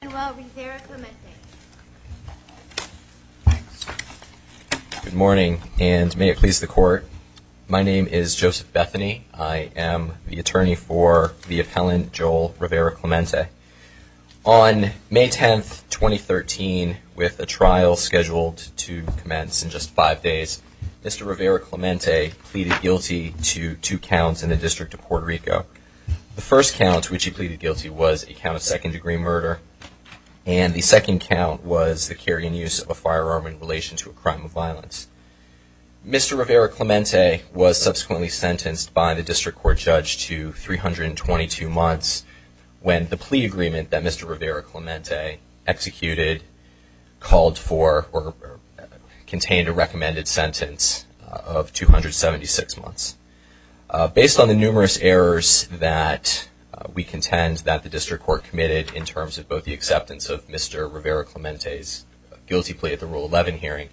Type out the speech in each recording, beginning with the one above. Good morning, and may it please the court. My name is Joseph Bethany. I am the attorney for the appellant, Joel Rivera-Clemente. On May 10th, 2013, with a trial scheduled to commence in just five days, Mr. Rivera-Clemente pleaded guilty to two counts in the District Court of Puerto Rico. The first count, which he pleaded guilty, was a count of second-degree murder, and the second count was the carrying and use of a firearm in relation to a crime of violence. Mr. Rivera-Clemente was subsequently sentenced by the District Court judge to 322 months when the plea agreement that Mr. Rivera-Clemente executed called for or contained a recommended sentence of 276 months. Based on the numerous errors that we contend that the District Court committed in terms of both the acceptance of Mr. Rivera-Clemente's guilty plea at the Rule 11 hearing,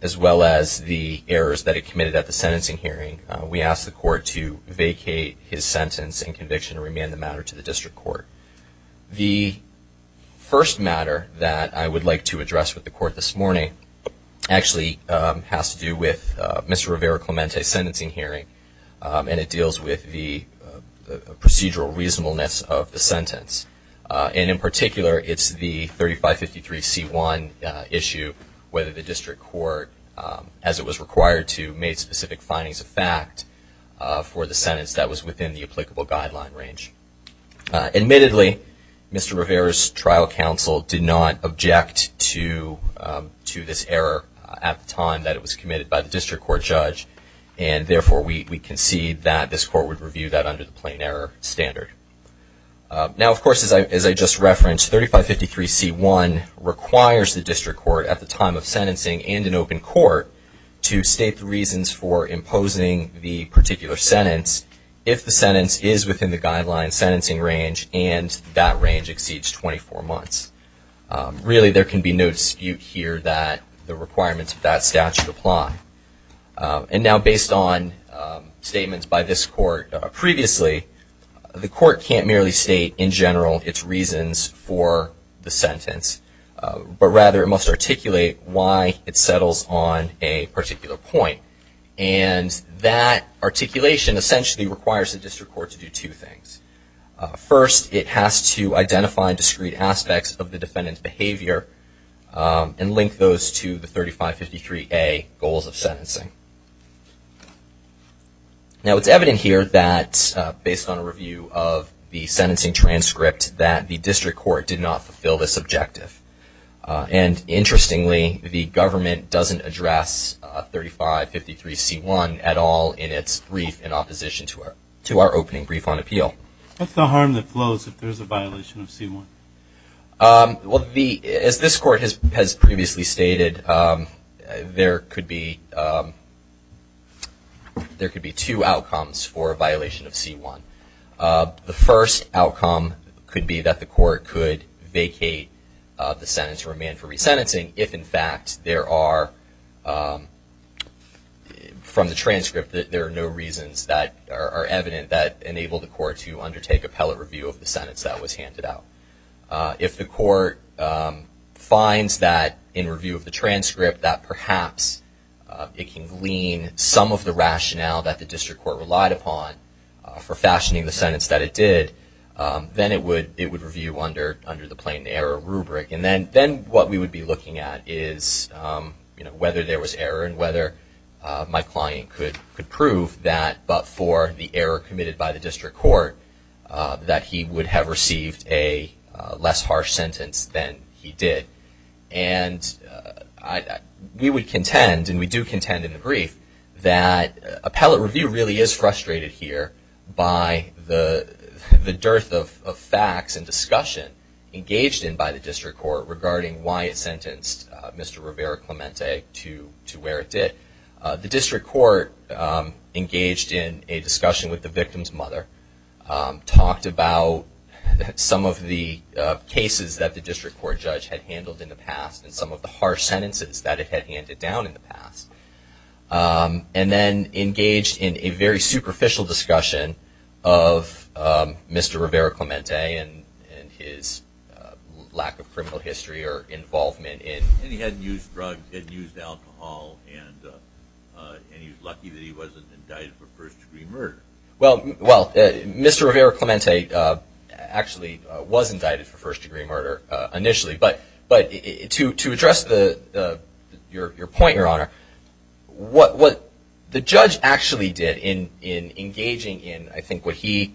as well as the errors that it committed at the sentencing hearing, we asked the court to vacate his sentence and conviction and remand the matter to the District Court. The first matter that I would like to address with the court this morning actually has to do with Mr. Rivera-Clemente's sentencing hearing, and it deals with the procedural reasonableness of the sentence. And in particular, it's the 3553C1 issue whether the District Court, as it was required to, made specific findings of fact for the sentence that was within the applicable guideline range. Admittedly, Mr. Rivera's trial counsel did not object to this error at the time that it was committed by the District Court judge, and therefore, we concede that this court would review that under the plain error standard. Now, of course, as I just referenced, 3553C1 requires the District Court at the time of sentencing and in open court to state the reasons for imposing the particular sentence if the sentence is within the guideline sentencing range and that range exceeds 24 months. Really, there can be no dispute here that the requirements of that statute apply. And now, based on statements by this court previously, the court can't merely state in general its reasons for the sentence, but rather it must articulate why it settles on a particular point. And that articulation essentially requires the District Court to do two things. First, it has to identify discrete aspects of the defendant's behavior and link those to the 3553A goals of sentencing. Now, it's evident here that, based on a review of the sentencing transcript, that the District Court did not fulfill this objective. And interestingly, the government doesn't address 3553C1 at all in its brief in opposition to our opening brief on appeal. What's the harm that flows if there's a violation of C1? As this court has previously stated, there could be two outcomes for a violation of C1. The first outcome could be that the court could vacate the sentence for a man for resentencing if, in fact, there are, from the transcript, there are no reasons that are evident that enable the court to undertake appellate review of the sentence that was handed out. If the court finds that, in review of the transcript, that perhaps it can glean some of the rationale that the District Court relied upon for fashioning the sentence that it did, then it would review under the plain error rubric. And then what we would be looking at is whether there was error and whether my client could prove that, but for the error committed by the District Court, that he would have received a less harsh sentence than he did. And we would contend, and we do contend in the brief, that appellate review really is frustrated here by the dearth of facts and discussion engaged in by the District Court regarding why it sentenced Mr. Rivera-Clemente to where it did. The District Court engaged in a discussion with the victim's mother, talked about some of the cases that the District Court judge had handled in the past and some of the harsh sentences that it had handed down in the past, and then engaged in a very superficial discussion of Mr. Rivera-Clemente and his lack of criminal history or involvement in. And he hadn't used drugs, hadn't used alcohol, and he was lucky that he wasn't indicted for first-degree murder. Well, Mr. Rivera-Clemente actually was indicted for first-degree murder initially, but to address your point, Your Honor, what the judge actually did in engaging in, I think, what he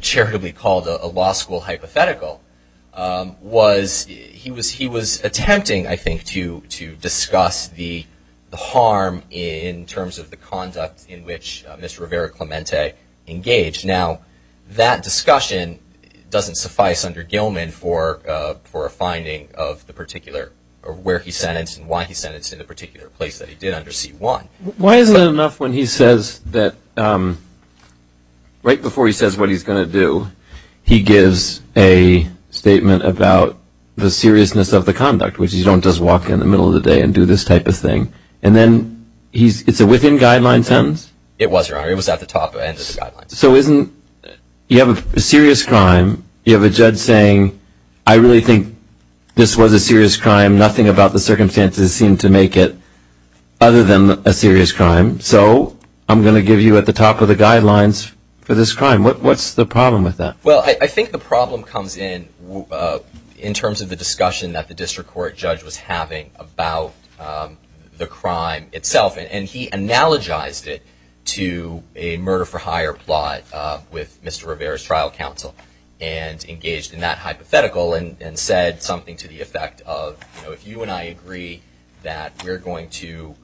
charitably called a law school hypothetical, was he was attempting to use the evidence I think to discuss the harm in terms of the conduct in which Mr. Rivera-Clemente engaged. Now that discussion doesn't suffice under Gilman for a finding of the particular, or where he sentenced and why he sentenced in the particular place that he did under C-1. Why is it enough when he says that, right before he says what he's going to do, he gives a statement about the seriousness of the conduct, which is you don't just walk in the middle of the day and do this type of thing. And then it's a within-guideline sentence? It was, Your Honor. It was at the top end of the guidelines. So isn't, you have a serious crime, you have a judge saying, I really think this was a serious crime, nothing about the circumstances seemed to make it other than a serious crime, so I'm going to give you at the top of the guidelines for this crime. What's the problem with that? Well, I think the problem comes in terms of the discussion that the district court judge was having about the crime itself. And he analogized it to a murder-for-hire plot with Mr. Rivera's trial counsel and engaged in that hypothetical and said something to the effect of, you know, if you and I agree that we're going to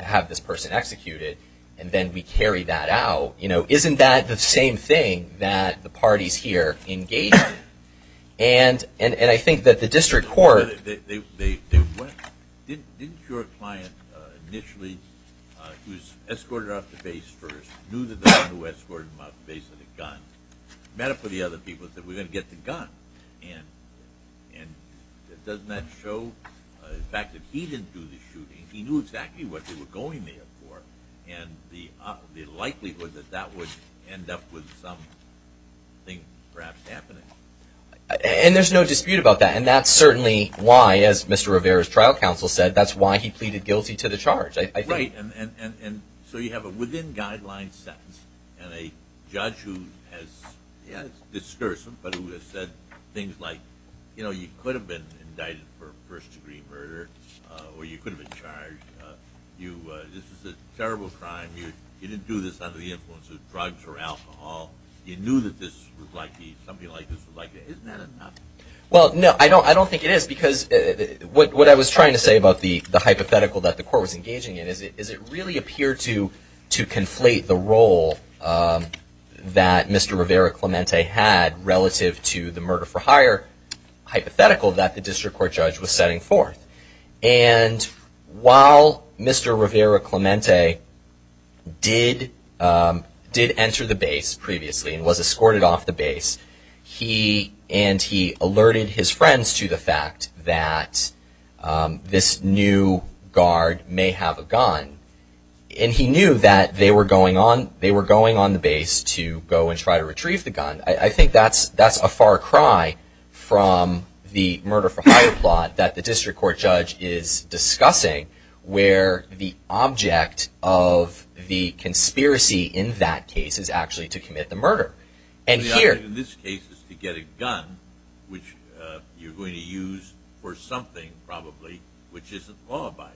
have this person executed and then we carry that out, you know, isn't that the same thing that the parties here engaged in? And I think that the district court... Didn't your client initially, who was escorted off the base first, knew that the one who escorted him off the base had a gun? Metaphorically, other people said, we're going to get the gun. And doesn't that show the fact that he didn't do the shooting, he knew exactly what they were going there for, and the likelihood that that would end up with something perhaps happening? And there's no dispute about that. And that's certainly why, as Mr. Rivera's trial counsel said, that's why he pleaded guilty to the charge. Right. And so you have a within-guidelines sentence and a judge who has, yeah, it's discursive, but who has said things like, you know, you could have been indicted for first-degree murder, or you could have been charged. This is a terrible crime. You didn't do this under the influence of drugs or alcohol. You knew that something like this was likely to happen. Isn't that enough? Well, no, I don't think it is, because what I was trying to say about the hypothetical that the court was engaging in is, does it really appear to conflate the role that Mr. Rivera Clemente had relative to the murder-for-hire hypothetical that the district court judge was setting forth? And while Mr. Rivera Clemente did enter the base previously and was escorted off the base, and he alerted his friends to the fact that this new guard may have a gun, and he knew that they were going on the base to go and try to retrieve the gun, I think that's a far cry from the murder-for-hire plot that the district court judge is discussing, where the object of the conspiracy in that case is actually to commit the murder. And the object in this case is to get a gun, which you're going to use for something, probably, which isn't law-abiding.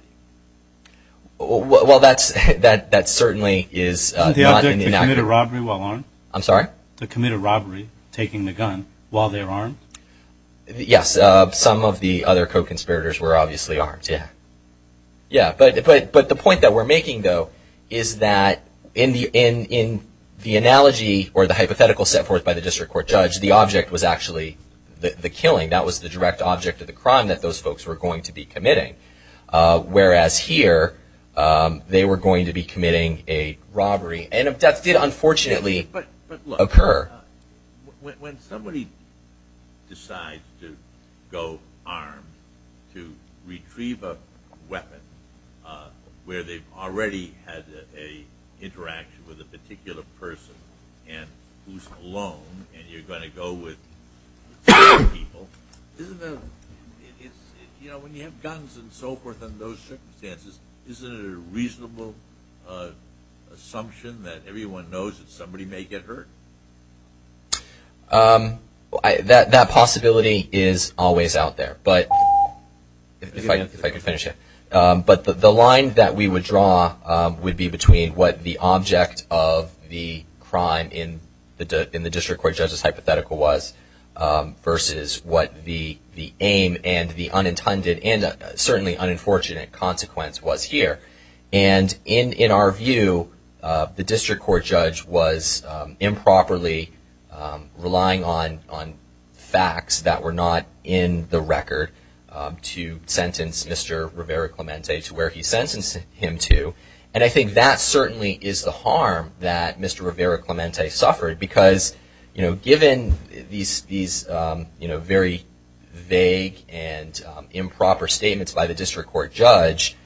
Well, that certainly is not an inaction. Isn't the object to commit a robbery while armed? I'm sorry? To commit a robbery, taking the gun, while they're armed? Yes, some of the other co-conspirators were obviously armed, yeah. Yeah, but the point that we're making, though, is that in the analogy or the hypothetical set forth by the district court judge, the object was actually the killing. That was the direct object of the crime that those folks were going to be committing. Whereas here, they were going to be committing a robbery, and a death did unfortunately occur. But look, when somebody decides to go armed to retrieve a weapon, where they've already had an interaction with a particular person, and who's alone, and you're going to go with other people, when you have guns and so forth in those circumstances, isn't it a reasonable assumption that everyone knows that somebody may get hurt? That possibility is always out there. If I could finish it. But the line that we would draw would be between what the object of the crime in the district court judge's hypothetical was versus what the aim and the unintended and certainly unfortunate consequence was here. And in our view, the district court judge was improperly relying on facts that were not in the record to sentence Mr. Rivera-Clemente to where he sentenced him to. And I think that certainly is the harm that Mr. Rivera-Clemente suffered, because given these very vague and improper statements by the district court judge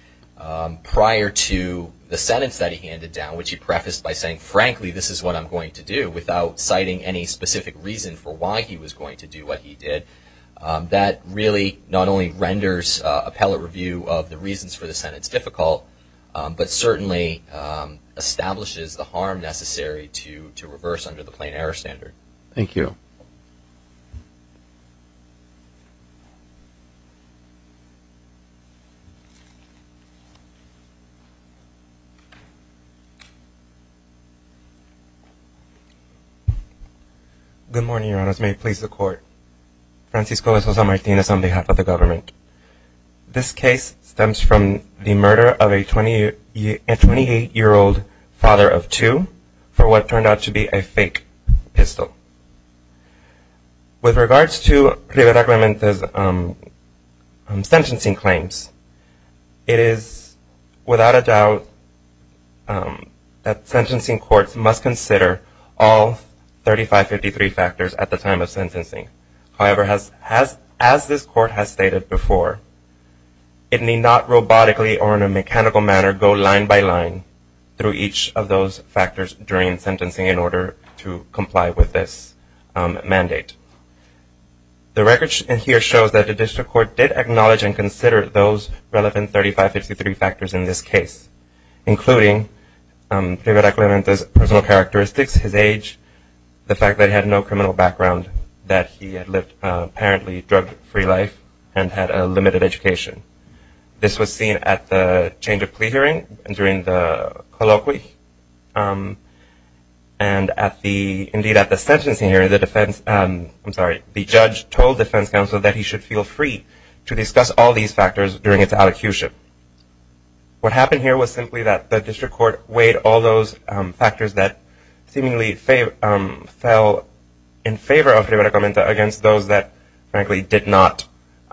prior to the sentence that he handed down, which he prefaced by saying, frankly, this is what I'm going to do, without citing any specific reason for why he was going to do what he did, that really not only renders appellate review of the reasons for the sentence difficult, but certainly establishes the harm necessary to reverse under the plain error standard. Thank you. Good morning, Your Honors. May it please the Court. Francisco de Sousa Martinez on behalf of the government. This case stems from the murder of a 28-year-old father of two for what turned out to be a fake pistol. With regards to Rivera-Clemente's sentencing claims, it is without a doubt that sentencing courts must consider all 3553 factors at the time of sentencing. However, as this Court has stated before, it need not robotically or in a mechanical manner go line by line through each of those factors during sentencing in order to comply with this mandate. The record here shows that the district court did acknowledge and consider those relevant 3553 factors in this case, including Rivera-Clemente's personal characteristics, his age, the fact that he had no criminal background, that he had lived an apparently drug-free life, and had a limited education. This was seen at the change of plea hearing during the colloquy, and at the, indeed at the sentencing hearing, the defense, I'm sorry, the judge told defense counsel that he should feel free to discuss all these factors during its advocation. What happened here was simply that the district court weighed all those factors that seemingly fell in favor of Rivera-Clemente against those that, frankly, did not,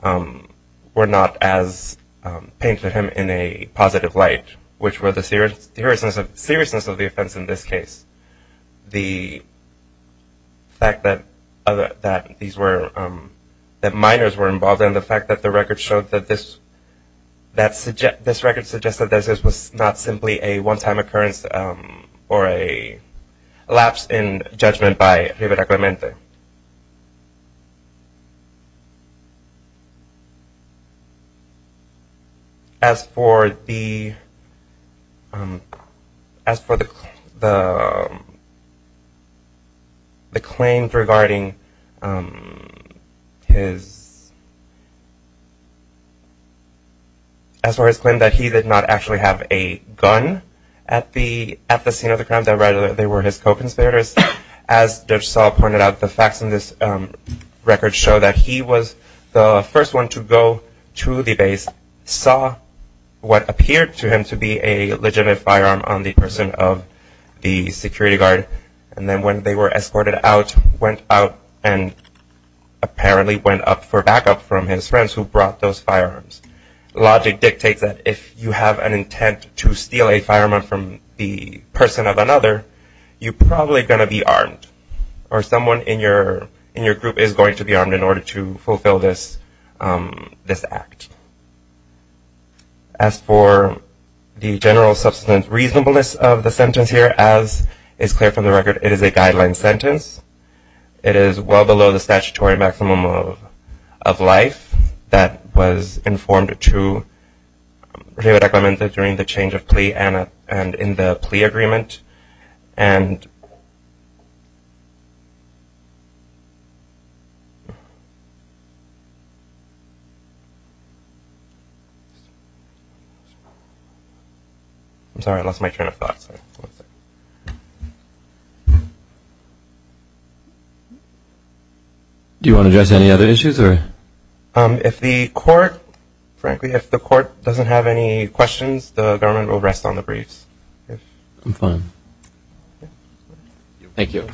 were not as paying to him in a positive light, which were the seriousness of the offense in this case. The fact that these were, that minors were involved, and the fact that the record showed that this, that this record suggested that this was not simply a one-time occurrence or a lapse in judgment by Rivera-Clemente. As for the, as for the claims regarding his, as for his claim that he did not actually have a gun at the, at the scene of the crimes, I read that they were his co-conspirators. As Judge Saul pointed out, the facts in this record show that he was the first one to go to the base, saw what appeared to him to be a legitimate firearm on the person of the security guard, and then when they were escorted out, went out and apparently went up for backup from his friends who brought those firearms. Logic dictates that if you have an intent to steal a firearm from the person of another, you're probably going to be armed, or someone in your, in your group is going to be armed in order to fulfill this, this act. As for the general substance reasonableness of the sentence here, as is clear from the record, it is a guideline sentence. It is well below the statutory maximum of life that was informed to Rivera-Clemente during the change of plea and in the plea agreement. And... I'm sorry, I lost my train of thought. Do you want to address any other issues, or? If the court, frankly, if the court doesn't have any questions, the government will rest on the briefs. I'm fine. Thank you.